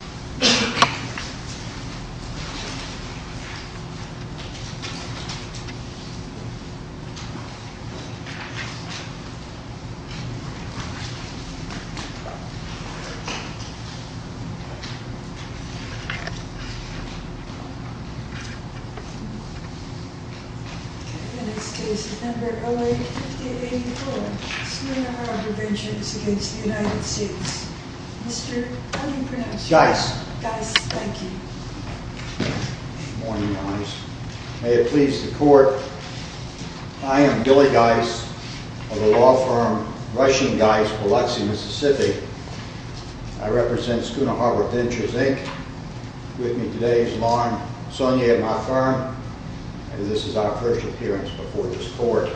In this case, No. LA-5084, Sooner Harbor Ventures v. United States. Mr. Gies. Gies, thank you. Good morning, ladies. May it please the court, I am Billy Gies of the law firm Russian Gies, Biloxi, Mississippi. I represent Sooner Harbor Ventures, Inc., with me today is Lauren Sonnier, my firm, and this is our first appearance before this court.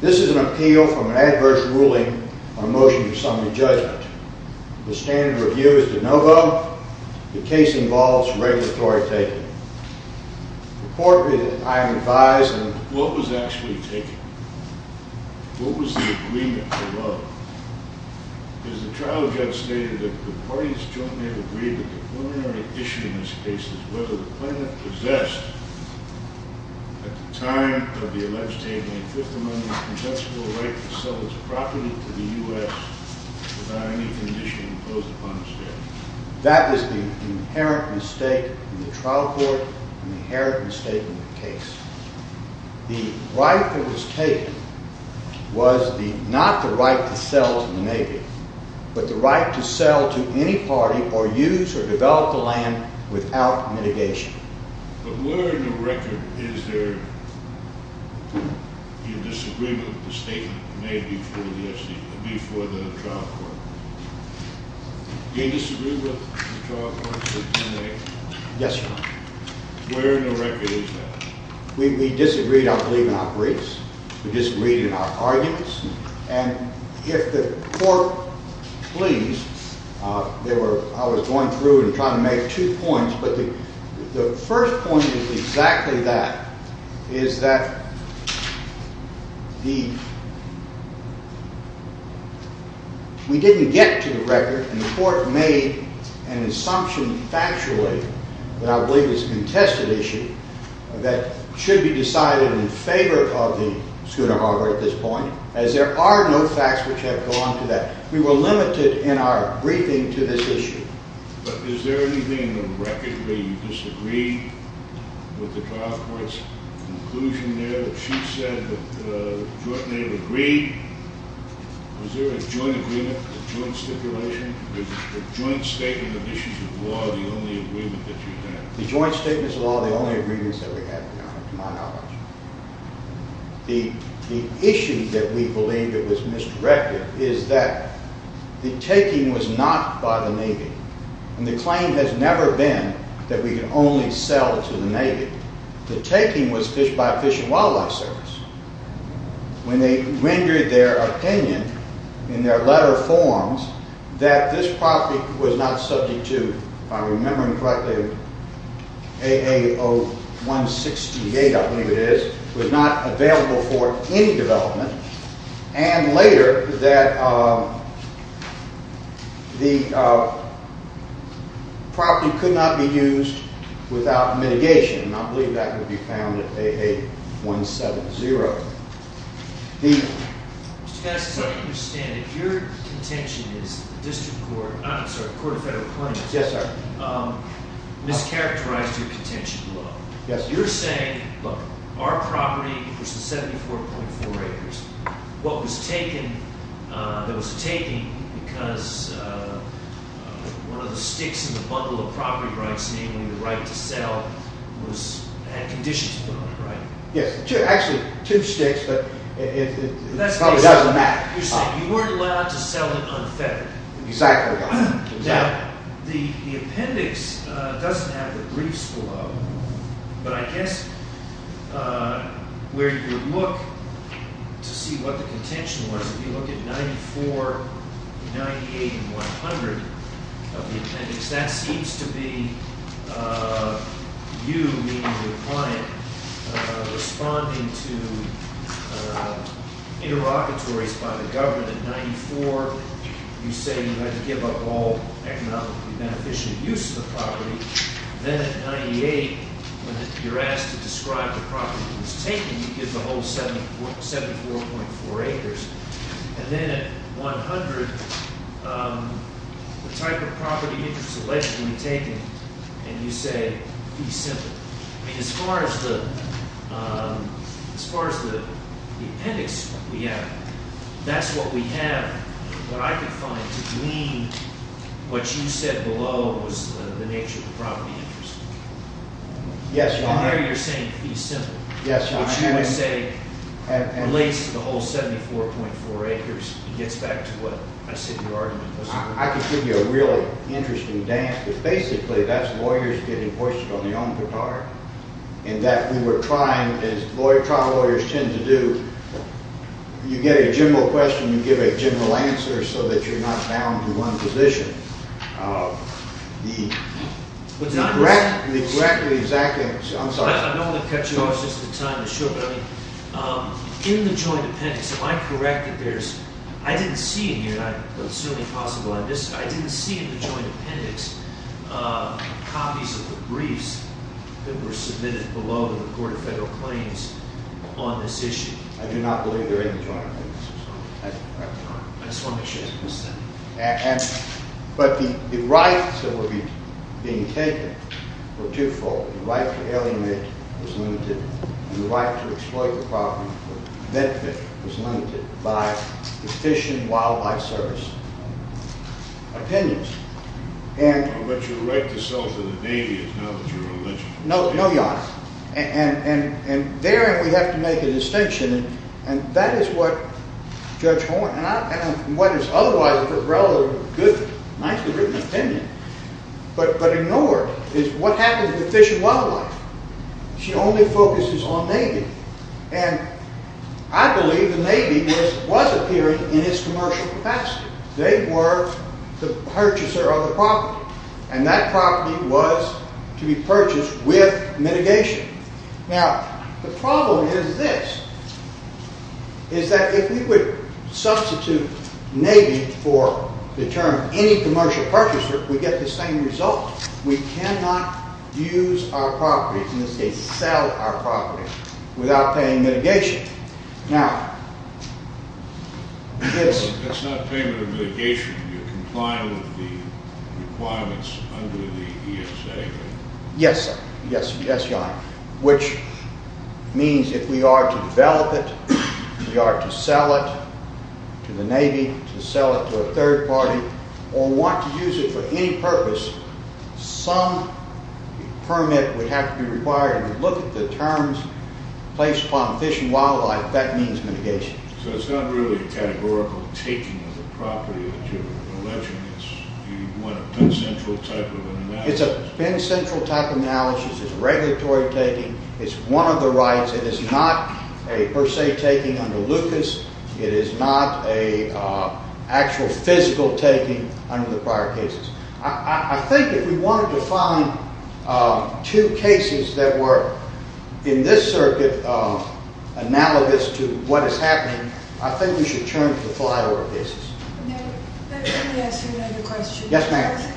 This is an appeal from an adverse ruling on a motion to assembly judgment. The standard review is to no vote. The case involves regulatory taking. Reportedly, I am advised... What was actually taken? What was the agreement for what? Because the trial judge stated that the parties jointly have agreed that the preliminary issue in this case is whether the plaintiff possessed, at the time of the alleged taking, a fifth-amendment consensual right to sell his property to the U.S. without any condition imposed upon the state. That is the inherent mistake in the trial court and the inherent mistake in the case. The right that was taken was not the right to sell to the Navy, but the right to sell to any party or use or develop the land without mitigation. But where in the record is there a disagreement with the statement made before the trial court? Do you disagree with the trial court's opinion? Yes, Your Honor. Where in the record is that? We disagreed, I believe, in our briefs. We disagreed in our arguments. And if the court please, I was going through and trying to make two points, but the first point is exactly that, is that we didn't get to the record, and the court made an assumption factually that I believe is a contested issue that should be decided in favor of the schooner harbor at this point, as there are no facts which have gone to that. We were limited in our briefing to this issue. But is there anything in the record where you disagree with the trial court's conclusion there that she said that the joint native agreed? Was there a joint agreement, a joint stipulation? Was the joint statement of issues of law the only agreement that you had? The joint statements of law are the only agreements that we had, Your Honor, to my knowledge. The issue that we believe that was misdirected is that the taking was not by the Navy, and the claim has never been that we can only sell to the Navy. The taking was by Fish and Wildlife Service. When they rendered their opinion in their letter of forms that this property was not subject to, if I'm remembering correctly, AA-0168, I believe it is, was not available for any development, and later that the property could not be used without mitigation, and I believe that could be found at AA-170. Mr. Fess, as I understand it, your contention is that the District Court, I'm sorry, the Court of Federal Claims, mischaracterized your contention below. You're saying, look, our property, which is 74.4 acres, what was taken, that was taken because one of the sticks in the bundle of property rights, namely the right to sell, had conditions put on it, right? Yes, actually two sticks, but it probably doesn't matter. You're saying you weren't allowed to sell it unfettered. Exactly. Now, the appendix doesn't have the briefs below, but I guess where you look to see what the contention was, if you look at 94, 98, and 100 of the appendix, that seems to be you, meaning your client, responding to interlocutories by the government. At 94, you say you had to give up all economically beneficial use of the property. Then at 98, when you're asked to describe the property that was taken, you give the whole 74.4 acres. Then at 100, the type of property interest allegedly taken, and you say fee simple. As far as the appendix we have, that's what we have, what I could find, to glean what you said below was the nature of the property interest. Yes, Your Honor. And there you're saying fee simple. Yes, Your Honor. At least the whole 74.4 acres gets back to what I said in your argument. I could give you a really interesting dance, but basically that's lawyers getting hoisted on their own guitar, and that we were trying, as trial lawyers tend to do, you get a general question, you give a general answer, so that you're not bound to one position. Correct me exactly. I'm sorry. I don't want to cut you off just in time to show, but in the joint appendix, am I correct that there's, I didn't see in here, and I'm assuming possible on this, I didn't see in the joint appendix copies of the briefs that were submitted below the Court of Federal Claims on this issue. I do not believe they're in the joint appendix, Your Honor. I just want to make sure I understand. But the rights that were being taken were twofold. The right to alienate was limited, and the right to exploit the property for benefit was limited by the Fish and Wildlife Service opinions. But your right to sell to the Navy is not what you're alleging. No, Your Honor. And therein we have to make a distinction, and that is what Judge Horne, and what is otherwise a relatively good, nicely written opinion, but ignored, is what happens with fish and wildlife. She only focuses on Navy, and I believe the Navy was appearing in its commercial capacity. They were the purchaser of the property, and that property was to be purchased with mitigation. Now, the problem is this, is that if we would substitute Navy for the term any commercial purchaser, we get the same result. We cannot use our property, in this case sell our property, without paying mitigation. Now, this... That's not payment of mitigation. You're complying with the requirements under the ESA, right? Yes, sir. Yes, Your Honor. Which means if we are to develop it, if we are to sell it to the Navy, to sell it to a third party, or want to use it for any purpose, some permit would have to be required. If you look at the terms placed upon fish and wildlife, that means mitigation. So it's not really a categorical taking of the property that you're alleging. You want a Penn Central type of analysis. It's a Penn Central type analysis. It's regulatory taking. It's one of the rights. It is not a per se taking under Lucas. It is not an actual physical taking under the prior cases. I think if we wanted to find two cases that were, in this circuit, analogous to what is happening, I think we should turn to the flyover cases. May I ask you another question? Yes, ma'am.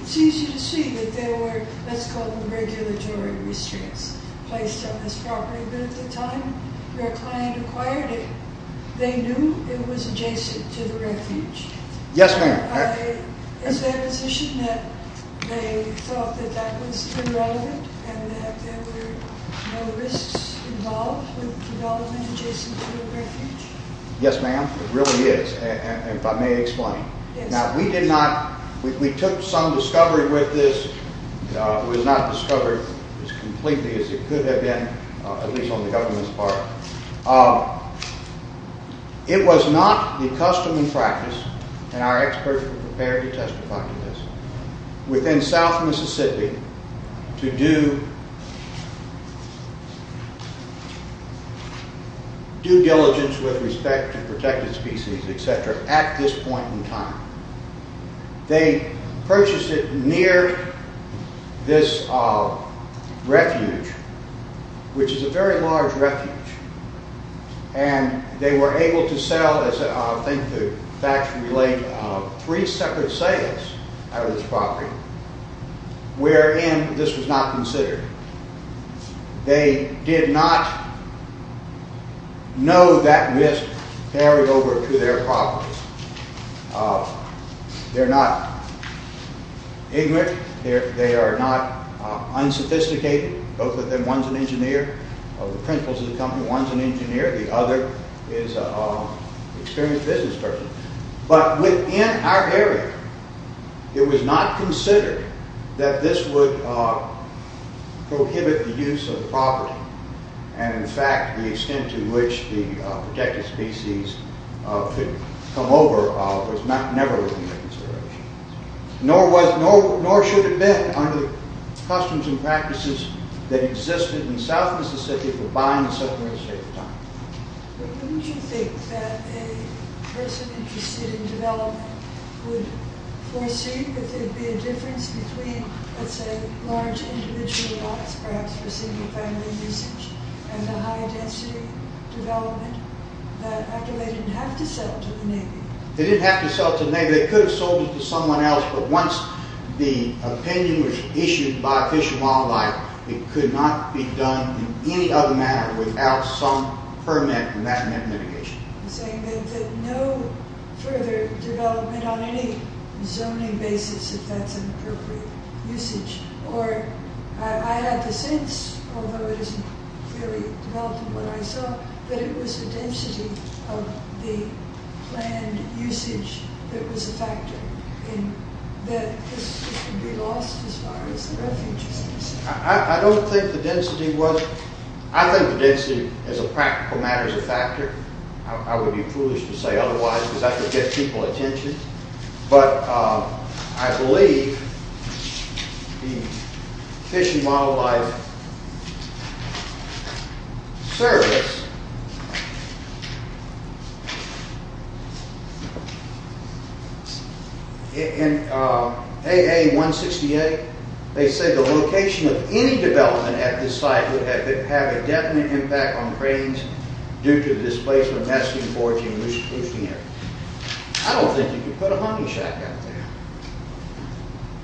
It's easy to see that there were, let's call them regulatory restraints, placed on this property. But at the time your client acquired it, they knew it was adjacent to the refuge. Yes, ma'am. Is there a position that they thought that that was irrelevant and that there were no risks involved with development adjacent to the refuge? Yes, ma'am. It really is. If I may explain. Now, we did not, we took some discovery with this. It was not discovered as completely as it could have been, at least on the government's part. It was not the custom and practice, and our experts were prepared to testify to this, within South Mississippi to do due diligence with respect to protected species, et cetera, at this point in time. They purchased it near this refuge, which is a very large refuge, and they were able to sell, I think the facts relate, three separate sales out of this property, wherein this was not considered. They did not know that risk carried over to their property. They're not ignorant. They are not unsophisticated. Both of them, one's an engineer. One of the principals of the company, one's an engineer. The other is an experienced business person. But within our area, it was not considered that this would prohibit the use of property. And, in fact, the extent to which the protected species could come over was never within their consideration. Nor should it have been under the customs and practices that existed in South Mississippi for buying and selling real estate at the time. But wouldn't you think that a person interested in development would foresee that there would be a difference between, let's say, large individual lots, perhaps for single-family usage, and the high-density development that, after they didn't have to sell to the Navy... They didn't have to sell to the Navy. They could have sold it to someone else, but once the opinion was issued by Fish and Wildlife, it could not be done in any other manner without some permanent and man-made mitigation. You're saying that no further development on any zoning basis, if that's an appropriate usage, or I had the sense, although it isn't clearly developed in what I saw, that it was the density of the planned usage that was a factor, and that this could be lost as far as the refuge is concerned. I don't think the density was... I think the density, as a practical matter, is a factor. I would be foolish to say otherwise, because that would get people's attention. But I believe the Fish and Wildlife Service, in AA-168, they say the location of any development at this site would have a definite impact on cranes due to the displacement, nesting, foraging, and moose-poosting area. I don't think you could put a hunting shack out there.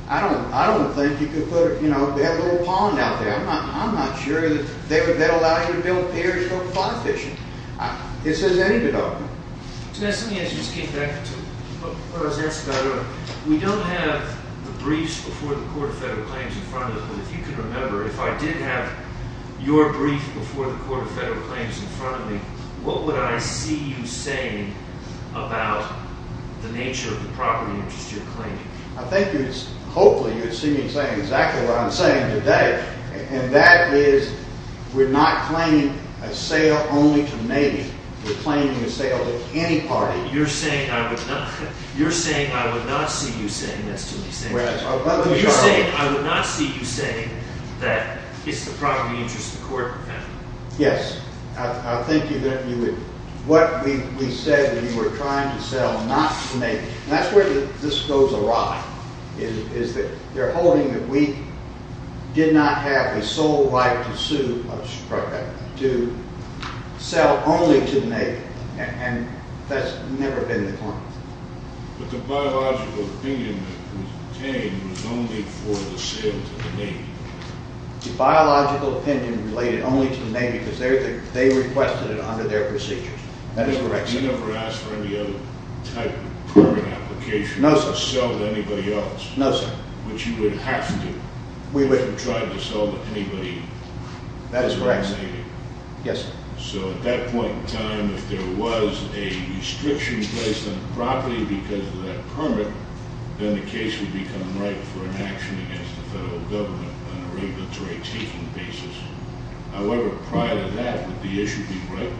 I don't think you could put... They have a little pond out there. I'm not sure that that would allow you to build piers for fly fishing. It says any development. So that's something I just came back to. What I was asking about, we don't have the briefs before the Court of Federal Claims in front of us, but if you can remember, if I did have your brief before the Court of Federal Claims in front of me, what would I see you saying about the nature of the property interest you're claiming? I think, hopefully, you'd see me saying exactly what I'm saying today, and that is we're not claiming a sale only to Navy. We're claiming a sale to any party. You're saying I would not... You're saying I would not see you saying... You're saying I would not see you saying that it's the property interest of the Court of Federal Claims. Yes. I think you would... What we said when you were trying to sell not to Navy, and that's where this goes awry, is that they're holding that we did not have a sole right to sue... to sell only to Navy, and that's never been the point. But the biological opinion that was obtained was only for the sale to the Navy. The biological opinion related only to the Navy because they requested it under their procedures. That is correct, sir. You never asked for any other type of permit application... No, sir. ...to sell to anybody else. No, sir. Which you would have to... We would. ...if you tried to sell to anybody... That is correct, sir. ...other than Navy. Yes, sir. So at that point in time, if there was a restriction placed on the property because of that permit, then the case would become ripe for an action against the federal government on a regulatory taking basis. However, prior to that, would the issue be ripe?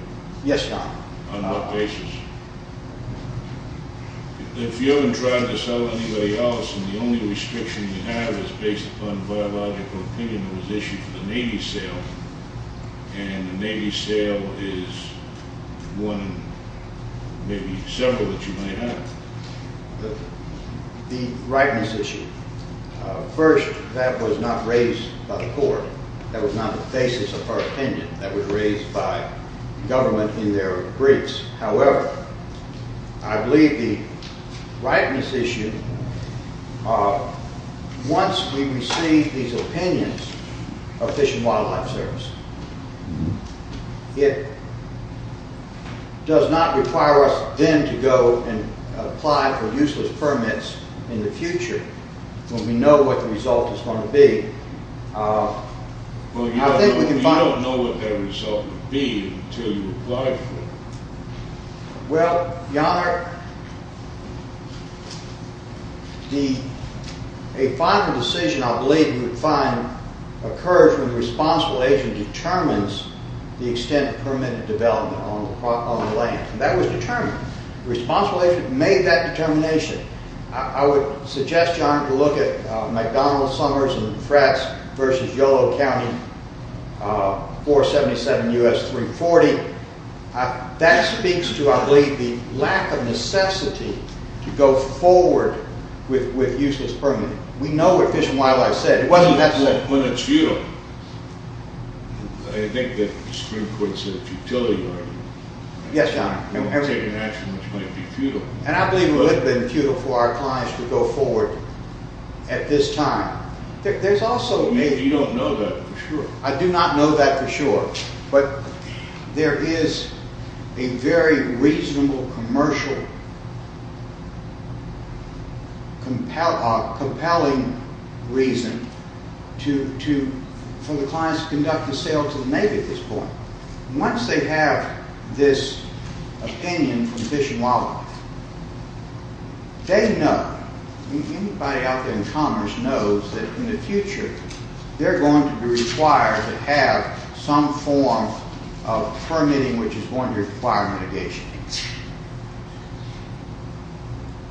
Yes, Your Honor. On what basis? If you haven't tried to sell to anybody else, and the only restriction we have is based upon biological opinion that was issued for the Navy sale, and the Navy sale is one, maybe several that you may have. The ripeness issue. First, that was not raised by the court. That was not the basis of our opinion. That was raised by government in their briefs. However, I believe the ripeness issue, once we receive these opinions of Fish and Wildlife Service, it does not require us then to go and apply for useless permits in the future when we know what the result is going to be. Well, you don't know what that result would be until you apply for it. Well, Your Honor, a final decision, I believe you would find, occurs when the responsible agent determines the extent of permitted development on the land. That was determined. The responsible agent made that determination. I would suggest, Your Honor, to look at McDonald, Summers, and Fratts versus Yolo County 477 U.S. 340. That speaks to, I believe, the lack of necessity to go forward with useless permitting. We know what Fish and Wildlife said. It wasn't that simple. When it's futile, I think that the Supreme Court said it's a futility argument. Yes, Your Honor. We've taken action which might be futile. And I believe it would have been futile for our clients to go forward at this time. You don't know that for sure. I do not know that for sure. But there is a very reasonable, commercial, compelling reason for the clients to conduct a sale to the Navy at this point. Once they have this opinion from Fish and Wildlife, they know, anybody out there in commerce knows that in the future, they're going to be required to have some form of permitting which is going to require mitigation.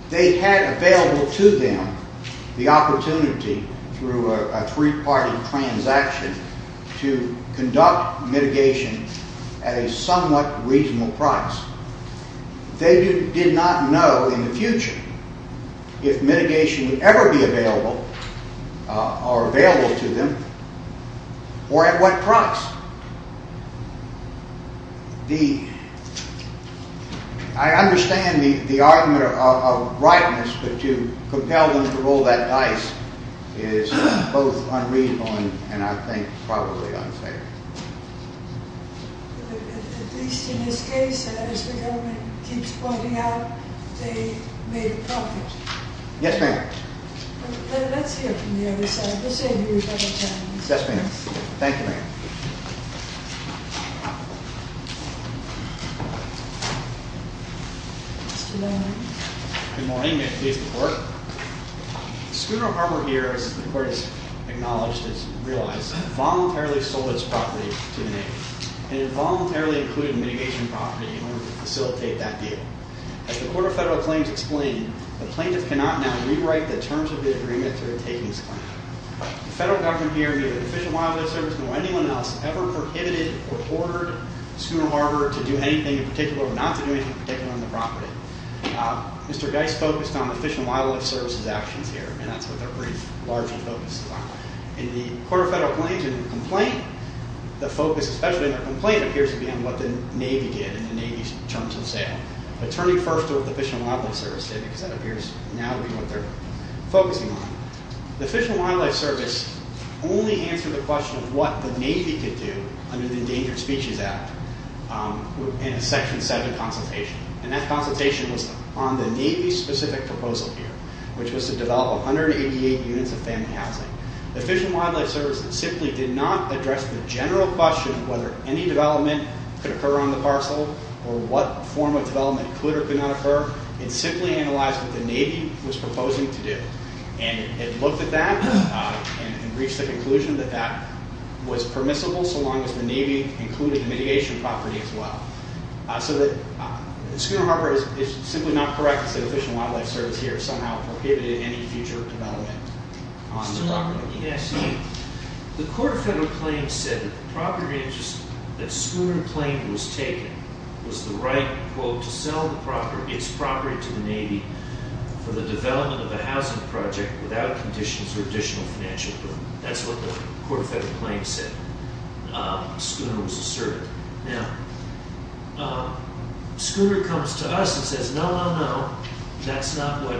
They had available to them the opportunity through a three-party transaction to conduct mitigation at a somewhat reasonable price. They did not know in the future if mitigation would ever be available or available to them or at what price. I understand the argument of rightness but to compel them to roll that dice is both unreasonable and I think probably unfair. At least in this case, as the government keeps pointing out, they made a profit. Yes, ma'am. Let's hear from the other side. Yes, ma'am. Thank you, ma'am. Good morning. May it please the Court. Scooter Harbor here, as the Court has acknowledged, has realized, voluntarily sold its property to the Navy and it voluntarily included mitigation property in order to facilitate that deal. As the Court of Federal Claims explained, the plaintiff cannot now rewrite the terms of the agreement to take this claim. The federal government here, neither the Fish and Wildlife Service nor anyone else ever prohibited or ordered Scooter Harbor to do anything in particular or not to do anything in particular on the property. Mr. Geist focused on the Fish and Wildlife Service's actions here and that's what their brief largely focuses on. In the Court of Federal Claims, in the complaint, the focus, especially in the complaint, appears to be on what the Navy did in the Navy's terms of sale. But turning first to what the Fish and Wildlife Service did because that appears now to be what they're focusing on. The Fish and Wildlife Service only answered the question of what the Navy could do under the Endangered Species Act in a Section 7 consultation. And that consultation was on the Navy's specific proposal here, which was to develop 188 units of family housing. The Fish and Wildlife Service simply did not address the general question of whether any development could occur on the parcel or what form of development could or could not occur. It simply analyzed what the Navy was proposing to do. And it looked at that and reached the conclusion that that was permissible so long as the Navy included the mitigation property as well. So that Schooner Harbor is simply not correct to say the Fish and Wildlife Service here somehow prohibited any future development on the property. Yes. The Court of Federal Claims said that the property interest that Schooner Plain was taking was the right, quote, to sell its property to the Navy for the development of a housing project without conditions or additional financial burden. That's what the Court of Federal Claims said. Schooner was asserted. Now, Schooner comes to us and says, no, no, no, that's not what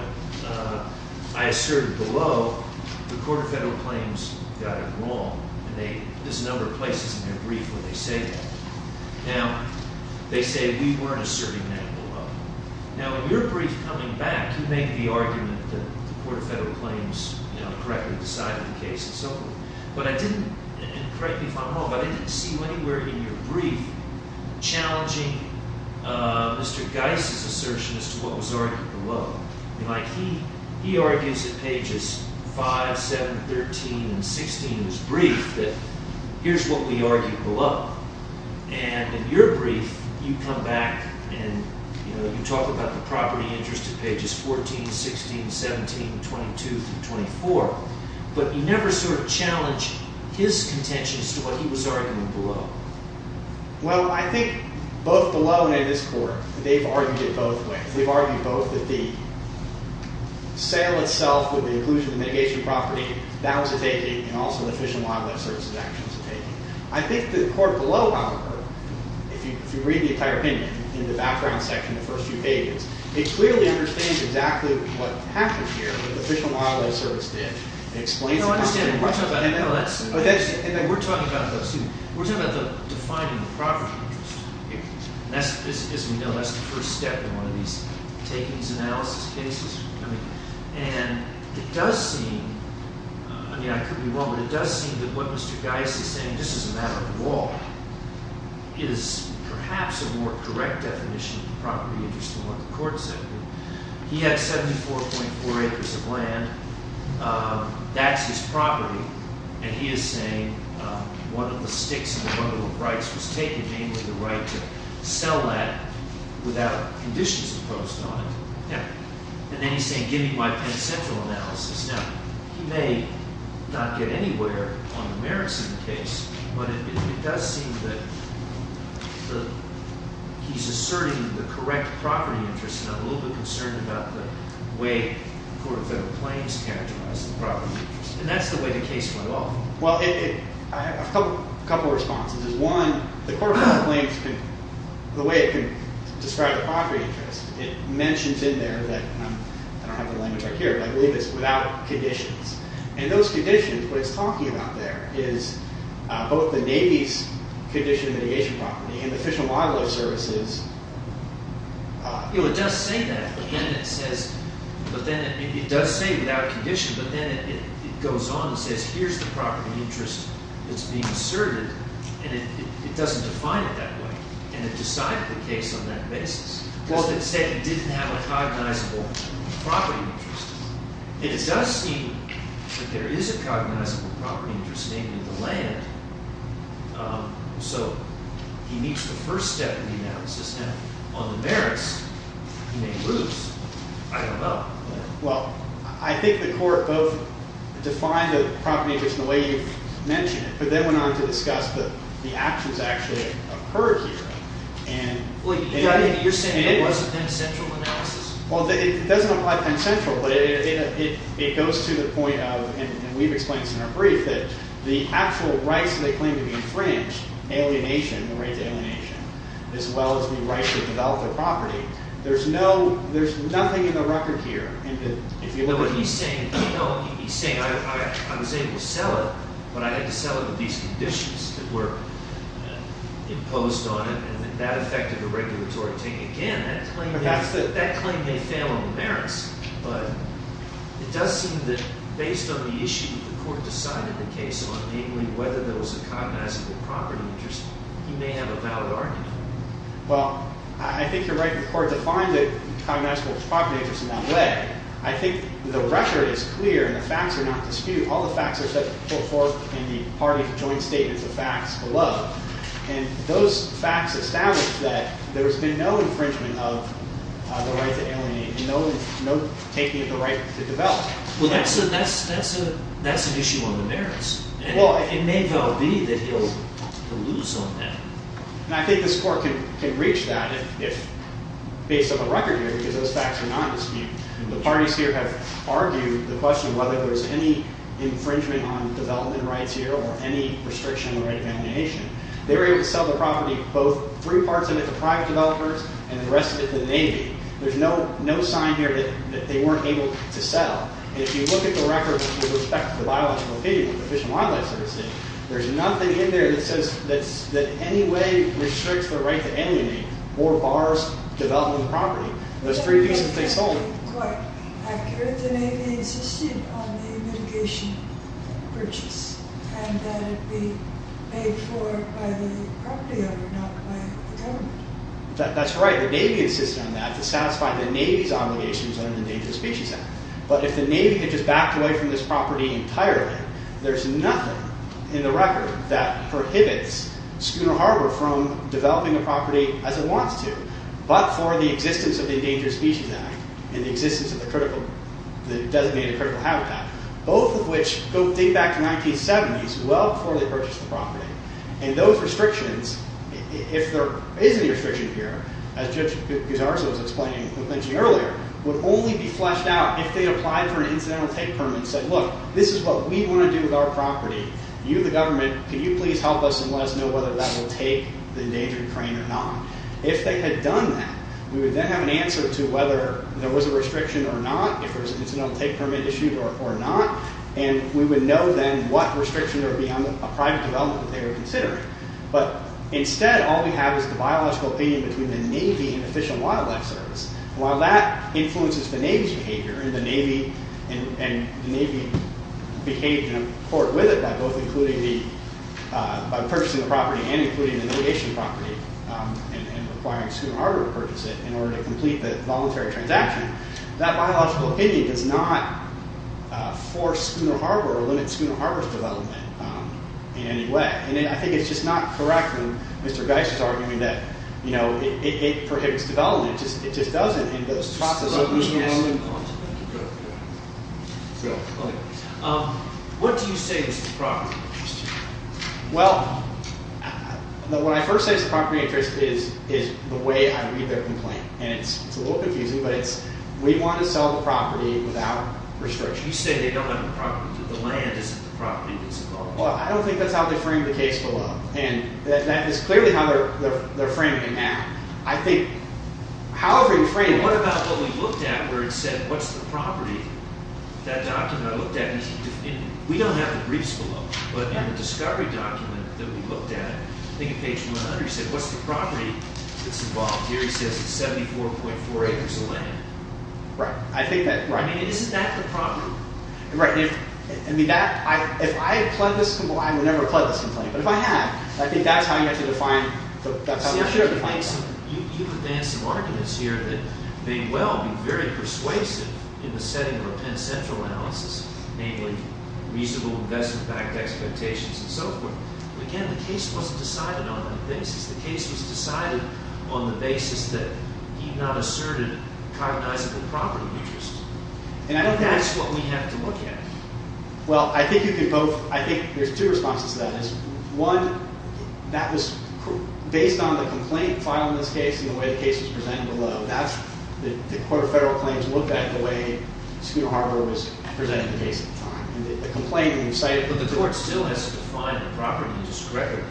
I asserted below. The Court of Federal Claims got it wrong. There's a number of places in their brief where they say that. Now, they say we weren't asserting that below. Now, in your brief coming back, you made the argument that the Court of Federal Claims, you know, correctly decided the case and so forth. But I didn't, and correct me if I'm wrong, but I didn't see you anywhere in your brief challenging Mr. Geis' assertion as to what was argued below. Like, he argues at pages 5, 7, 13, and 16 in his brief that here's what we argued below. And in your brief, you come back and, you know, you talk about the property interest at pages 14, 16, 17, 22, and 24, but you never sort of challenge his contention as to what he was arguing below. Well, I think both below and in this Court, they've argued it both ways. They've argued both that the sale itself with the inclusion of the mitigation property, that was a taking, and also the Fish and Wildlife Service's action is a taking. I think the Court below, however, if you read the entire opinion in the background section in the first few pages, it clearly understands exactly what happened here that the Fish and Wildlife Service did. It explains it. No, I understand. We're talking about those two. We're talking about defining the property interest. As we know, that's the first step in one of these takings analysis cases. And it does seem, I mean, I could be wrong, but it does seem that what Mr. Geis is saying, and this is a matter of the law, is perhaps a more correct definition of property interest than what the Court said. He had 74.4 acres of land. That's his property. And he is saying one of the sticks and one of the rights was taken, namely the right to sell that without conditions imposed on it. And then he's saying give me my pen central analysis. Now, he may not get anywhere on the merits of the case, but it does seem that he's asserting the correct property interest, and I'm a little bit concerned about the way the Court of Federal Claims characterizes the property interest. And that's the way the case went off. Well, I have a couple of responses. One, the Court of Federal Claims, the way it can describe the property interest, it mentions in there that, I don't have the language right here, but I believe it's without conditions. And those conditions, what it's talking about there is both the Navy's condition mitigation property and the Fish and Wildlife Service's. You know, it does say that, but then it says, but then it does say without conditions, but then it goes on and says here's the property interest that's being asserted, and it doesn't define it that way. And it decided the case on that basis. Well, it said it didn't have a cognizable property interest. And it does seem that there is a cognizable property interest named in the land. So, he meets the first step in the analysis. Now, on the merits, he may lose. I don't know. Well, I think the Court both defined the property interest in the way you've mentioned it, but then went on to discuss that the actions actually occurred here. And... You're saying it was a Penn Central analysis? Well, it doesn't apply to Penn Central, but it goes to the point of, and we've explained this in our brief, that the actual rights that they claim to be infringed, alienation, the right to alienation, as well as the right to develop their property, there's no, there's nothing in the record here. But he's saying, you know, he's saying, I was able to sell it, but I had to sell it with these conditions that were imposed on it, and that affected the regulatory thing. Again, that claim may fail on the merits, but it does seem that based on the issue the Court decided the case on, namely whether there was a cognizable property interest, he may have a valid argument. Well, I think you're right. The Court defined it cognizable property interest in that way. I think the record is clear and the facts are not disputed. All the facts are set forth in the parties' joint statements of facts below. And those facts establish that there's been no infringement of the right to alienation, and no taking of the right to develop. Well, that's an issue on the merits. And it may well be that he'll lose on that. And I think this Court can reach that if, based on the record here, because those facts are not disputed. The parties here have argued the question of whether there's any infringement on development rights here or any restriction on the right to alienation. They were able to sell the property, both three parts of it to private developers, and the rest of it to the Navy. There's no sign here that they weren't able to sell. And if you look at the record with respect to the biological opinion of the Fish and Wildlife Service, there's nothing in there that says that any way restricts the right to alienation or bars development of the property. Those three pieces, they sold it. I've heard the Navy insisting on a mitigation purchase and that it be paid for by the property owner, not by the government. That's right. The Navy insisted on that to satisfy the Navy's obligations on the Endangered Species Act. But if the Navy had just backed away from this property entirely, there's nothing in the record that prohibits Schooner Harbor from developing a property as it wants to, but for the existence of the Endangered Species Act and the existence of the designated critical habitat, both of which date back to 1970s, well before they purchased the property. And those restrictions, if there is any restriction here, as Judge Guzzardo was explaining and mentioning earlier, would only be fleshed out if they applied for an incidental take permit and said, look, this is what we want to do with our property. You, the government, can you please help us and let us know whether that will take the endangered crane or not? If they had done that, we would then have an answer to whether there was a restriction or not, if there was an incidental take permit issued or not, and we would know then what restriction there would be on a private development that they were considering. But instead, all we have is the biological opinion between the Navy and Fish and Wildlife Service. While that influences the Navy's behavior, and the Navy behaved in accord with it by purchasing the property and including the navigation property and requiring Schooner Harbor to purchase it in order to complete the voluntary transaction, that biological opinion does not force Schooner Harbor or limit Schooner Harbor's development in any way. And I think it's just not correct when Mr. Geis is arguing that it prohibits development. It just doesn't, and those processes... Let me ask you one more question. Go ahead. Okay. What do you say is the property interest? Well, what I first say is the property interest is the way I read their complaint. And it's a little confusing, but it's, we want to sell the property without restriction. You say they don't have the property, the land isn't the property that's involved. Well, I don't think that's how they framed the case below. And that is clearly how they're framing it now. I think... However you frame it... What about what we looked at where it said what's the property? That document I looked at, we don't have the briefs below, but in the discovery document that we looked at, I think at page 100, it said what's the property that's involved? Here it says it's 74.4 acres of land. Right. I think that... I mean, isn't that the property? Right. I mean, that... If I had pled this complaint, well, I would never have pled this complaint, but if I had, I think that's how you have to define... You've advanced some arguments here that may well be very persuasive in the setting of a Penn Central analysis, namely reasonable investment-backed expectations and so forth. Again, the case wasn't decided on that basis. The case was decided on the basis that he not asserted cognizable property interests. That's what we have to look at. Well, I think you could both... I think there's two responses to that. One, that was based on the complaint file in this case and the way the case was presented below. That's the Court of Federal Claims looked at the way Scudo Harbor was presented at the base at the time. The complaint you cited... But the court still has to define the property interest record.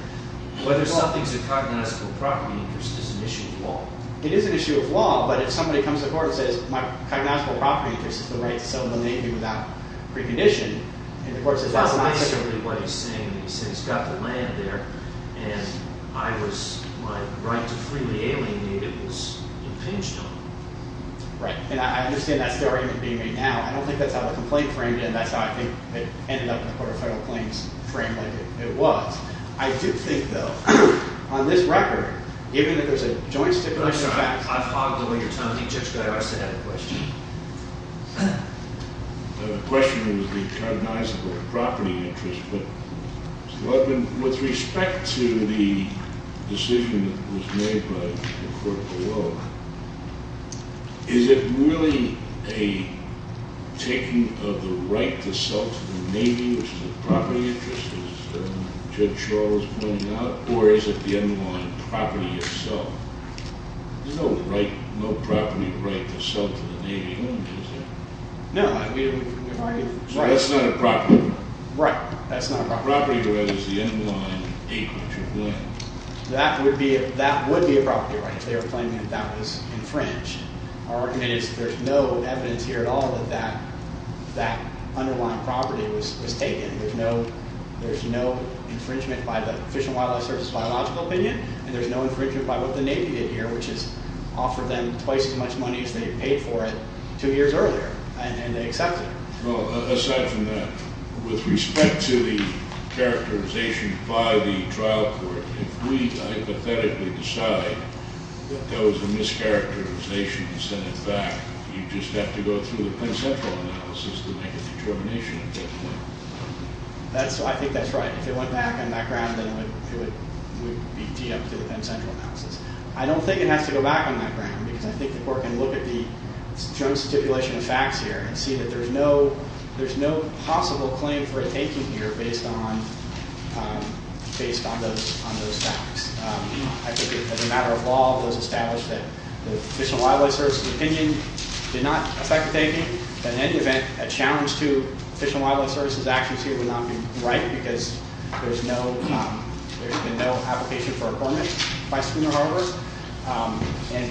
Whether something's a cognizable property interest is an issue of law. It is an issue of law, but if somebody comes to court and says, my cognizable property interest is the right to sell the Navy without precondition, and the court says... That's not necessarily what he's saying. He says, he's got the land there, and I was... My right to freely alienate it was impinged on. Right. And I understand that's the argument being made now. I don't think that's how the complaint framed it, and that's how I think it ended up in the Court of Federal Claims framed like it was. I do think, though, on this record, given that there's a joint stipulation of facts... I'm sorry. I fogged up on your tone. You just go to us and ask another question. The question was, the cognizable property interest with respect to the decision that was made by the court below, is it really a taking of the right to sell to the Navy, which is a property interest, as Judge Charles was pointing out, or is it the underlying property itself? There's no property right to sell to the Navy, is there? No. So that's not a property right? Right. That's not a property right. Property right is the underlying acreage of land. That would be a property right if they were claiming that that was infringed. Our argument is that there's no evidence here at all that that underlying property was taken. There's no infringement by the Fish and Wildlife Service's biological opinion, and there's no infringement by what the Navy did here, which is offer them twice as much money as they paid for it two years earlier, and they accepted it. Aside from that, with respect to the characterization by the trial court, if we hypothetically decide that that was a mischaracterization and sent it back, you just have to go through the Penn Central analysis to make a determination at that point. I think that's right. If it went back on that ground, then it would be teed up to the Penn Central analysis. I don't think it has to go back on that ground, because I think the court can look at the Jones stipulation of facts here and see that there's no possible claim for a taking here based on those facts. I think that as a matter of law, it was established that the Fish and Wildlife Service's opinion did not affect the taking, but in any event, a challenge to Fish and Wildlife Service's actions here would not be right, because there's been no application for appointment by Skinner Harbor, and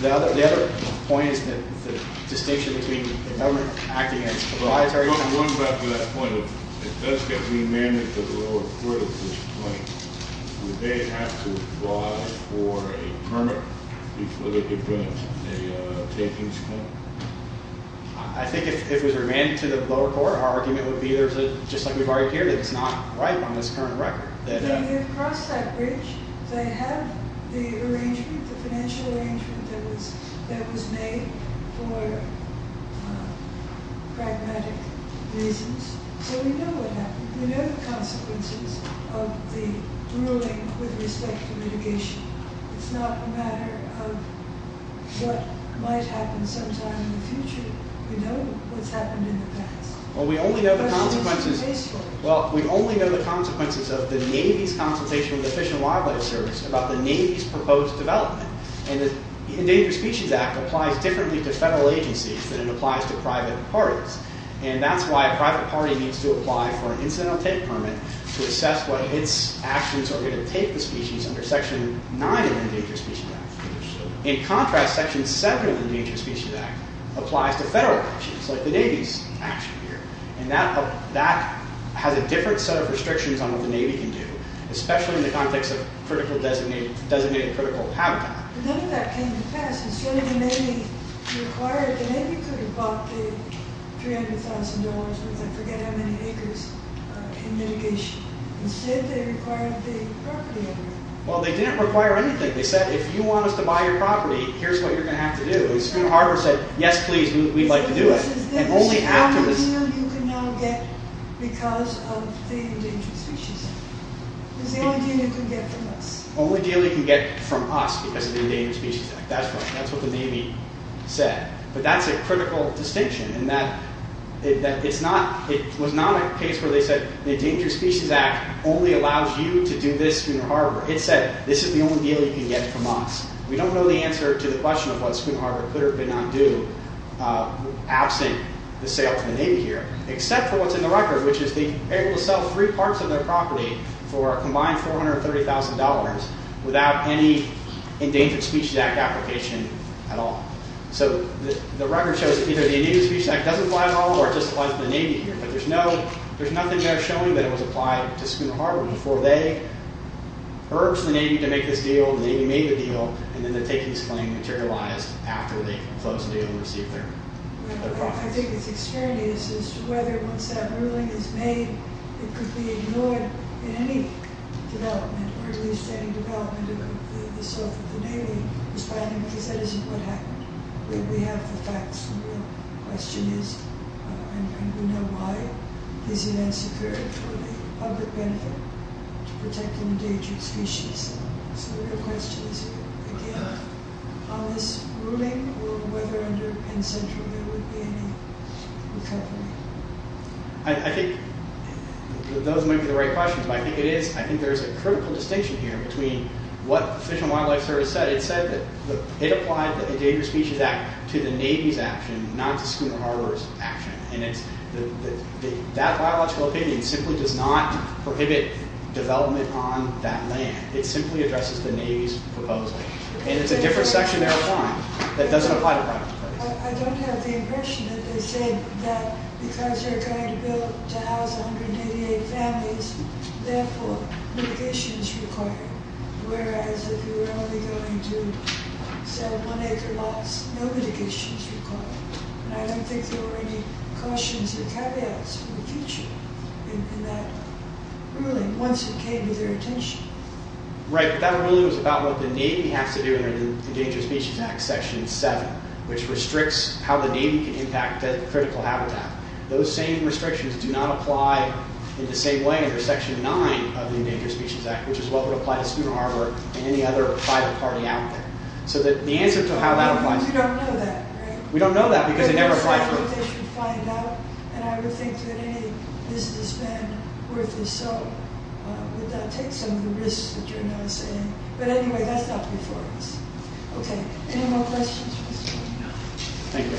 the other point is that the distinction between the government acting as a bridge and the acting as a bridge. If it runs after that point, if it does get remanded to the lower court at this point, would they have to apply for a permit before they could bring a takings claim? I think if it was remanded to the lower court, our argument would be just like we've argued here, that it's not right on this current record. They have crossed that bridge. They have the arrangement, the financial arrangement that was made for pragmatic reasons, so we know what happened. We know the consequences of the ruling with respect to litigation. It's not a matter of what might happen sometime in the future. We know what's happened in the past. Well, we only know the consequences. Well, we only know the consequences of the Navy's consultation with the Fish and Wildlife Service about the Navy's proposed development, and the Endangered Species Act applies differently to federal agencies than it applies to private parties, and that's why a private party needs to apply for an incidental take permit to assess what its actions are going to take the species under Section 9 of the Endangered Species Act. In contrast, Section 7 of the Endangered Species Act applies to federal actions like the Navy's action here, and that has a different set of restrictions on what the Navy can do, especially in the context of designated critical habitat. None of that came to pass and so the Navy required, the Navy could have bought the $300,000, but I forget how many acres, in mitigation. Instead, they required the property owner. Well, they didn't require anything. They said, if you want us to buy your property, here's what you're going to have to do. And the student harbor said, yes please, we'd like to do it. The only deal you can now get because of the Endangered Species Act is the only deal you can get from us. The only deal you can get from us because of the Endangered Species Act. That's what the Navy said. But that's a critical distinction in that it's not, it was not a case where they said, the Endangered Species Act only allows you to do this student harbor. It said, this is the only deal you can get from us. We don't know the answer to the question of what student harbor could or could not do absent the sale to the Navy here, except for what's in the record, which is they're able to sell three parts of their property for a combined $430,000 without any Endangered Species Act application at all. So the record shows that either the Endangered Species Act doesn't apply at all or it just applies to the Navy here. But there's nothing there showing that it was applied to student harbor before they urged the Navy to make this deal and the Navy made the deal and then the taking of this claim materialized after they closed the deal and received their property. I think it's extraneous as to whether once that ruling is made it could be ignored in any development or at least any development that's going to complete itself with the Navy responding because that isn't what happened. We have the facts and the real question is, and we know why, is it insecure for the public benefit to protect endangered species? So the real question is again, on this ruling or whether under Penn Central there would be any recovery? I think those might be the right questions but I think it is, I think there is a critical distinction here between what the Fish and Wildlife Service said. It said that it applied the Endangered Species Act to the Navy's action, not to Schumer Harbor's action and that biological opinion simply does not prohibit development on that land. It simply addresses the Navy's proposal and it's a different section they're applying that doesn't apply to private property. I don't have the impression that they're saying that because they're going to build to house 188 families therefore mitigation is required whereas if you're only going to sell one acre lots, no mitigation is required and I don't think there were any cautions or caveats in the future in that ruling once it came to their attention. Right, that ruling was about what the Navy has to do under the Endangered Species Act, Section 7, which restricts how the Navy can impact critical habitat. Those same restrictions do not apply in the same way under Section 9 of the Endangered Species Act, which is what would apply to student harbor and any other private party out there. So the answer to how that applies... We don't know that, right? We don't know that because they never applied for it. I would think that any businessman worth his soul would take some of the risks that you're now saying. But anyway, that's not before us. Okay, any more questions? Thank you.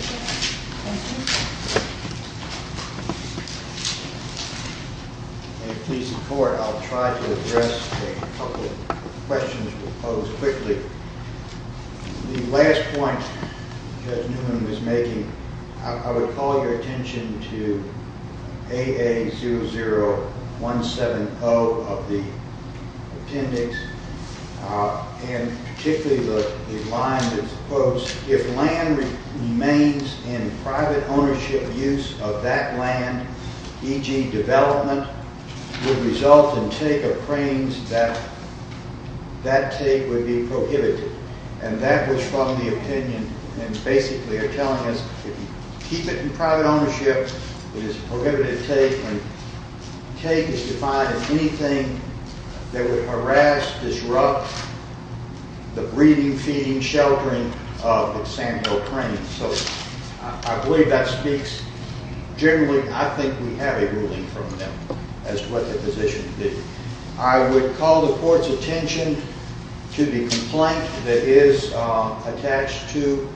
If you please support, I'll try to address a couple of questions we'll pose quickly. The last point Judge Newman was making, I would call your attention to AA00170 of the Appendix and particularly the line that's posed. If land remains in private ownership use of that land, e.g. development, would result in take of cranes that take would be prohibited. And that was from the opinion and basically are telling us if you keep it in private ownership, it is prohibited to take and take is defined as anything that would harass, disrupt the breeding, feeding, sheltering of the Samuel cranes. So I believe that speaks generally. I think we have a ruling from them as to what the position would be. I would call the Court's attention to the complaint that is attached to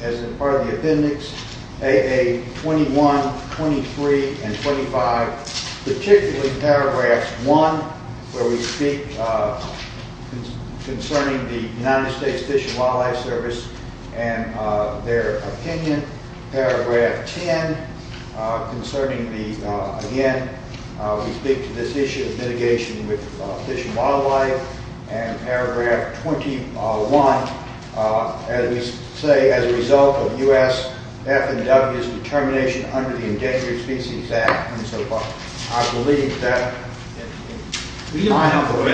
as a part of the Appendix, AA21, 23, and 25, particularly paragraphs 1, where we concerning the United States Fish and Wildlife Service and their opinion. Paragraph 10, concerning the, again, we speak to this issue of mitigation with fish and wildlife and paragraph 21, as we say, as a result of U.S. F&W's determination under the Endangered Species Act and so forth. I believe that in my opinion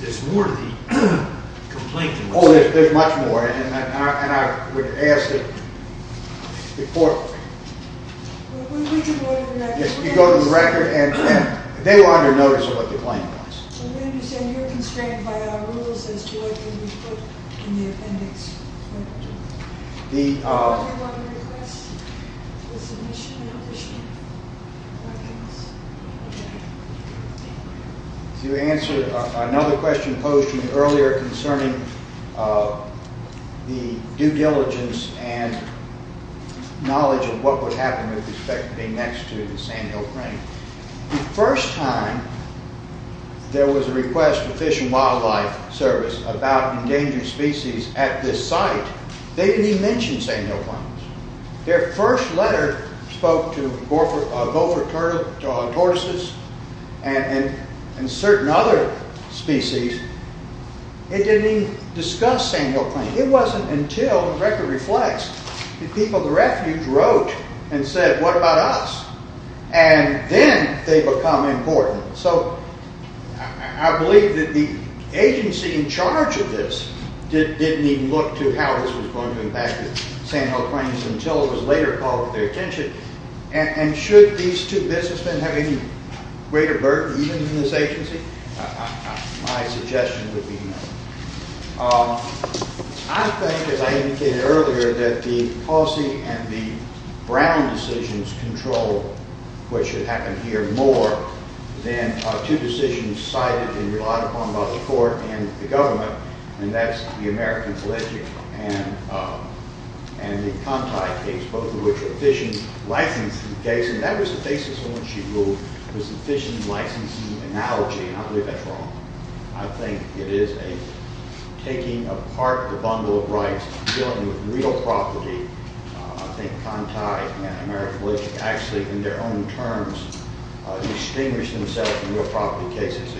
there's more to the complaint than one. Oh, there's much more and I would ask the Court to go to the record and they were under notice of what the claim was. So we understand you're constrained by our rules as to what can be put in the appendix. Do you have any other requests for submission and addition? If you answer another question posed to me earlier concerning the due diligence and knowledge of what would happen with respect to being next to the sandhill crane. The first time there was a request for Fish and Wildlife Service about endangered species at this site, they didn't even mention sandhill cranes. Their first letter spoke to gopher tortoises and certain other species. It didn't even discuss sandhill cranes. It wasn't until the record reflects that people at the refuge wrote and said what about us? And then they become important. So I believe that the agency in charge of this didn't even look to how this was going to impact sandhill cranes until it was later called to their attention. And should these two businessmen have any greater burden even in this agency? My suggestion would be no. I think as I indicated earlier that the policy and the Brown decisions control what should happen here more than two decisions cited in the court and the government and that's the American Pledge and the Conti case both of which are fishing licensing cases and that was the basis of when she ruled was the fishing licensing analogy. I believe that's wrong. I think it is a taking apart the bundle of rights dealing with real property. I think Conti and American Pledge actually in their own terms distinguished themselves in real property cases.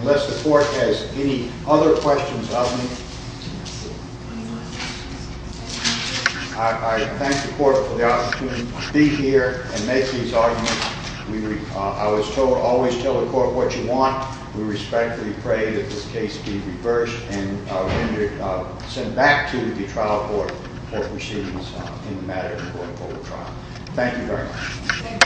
Unless the court has any other questions of me, I thank the court for the opportunity to be here and make these arguments. I was told always tell the court what you want. We respectfully pray that this case be reversed and sent back to the trial court for proceedings in the matter of a court court trial. Thank you very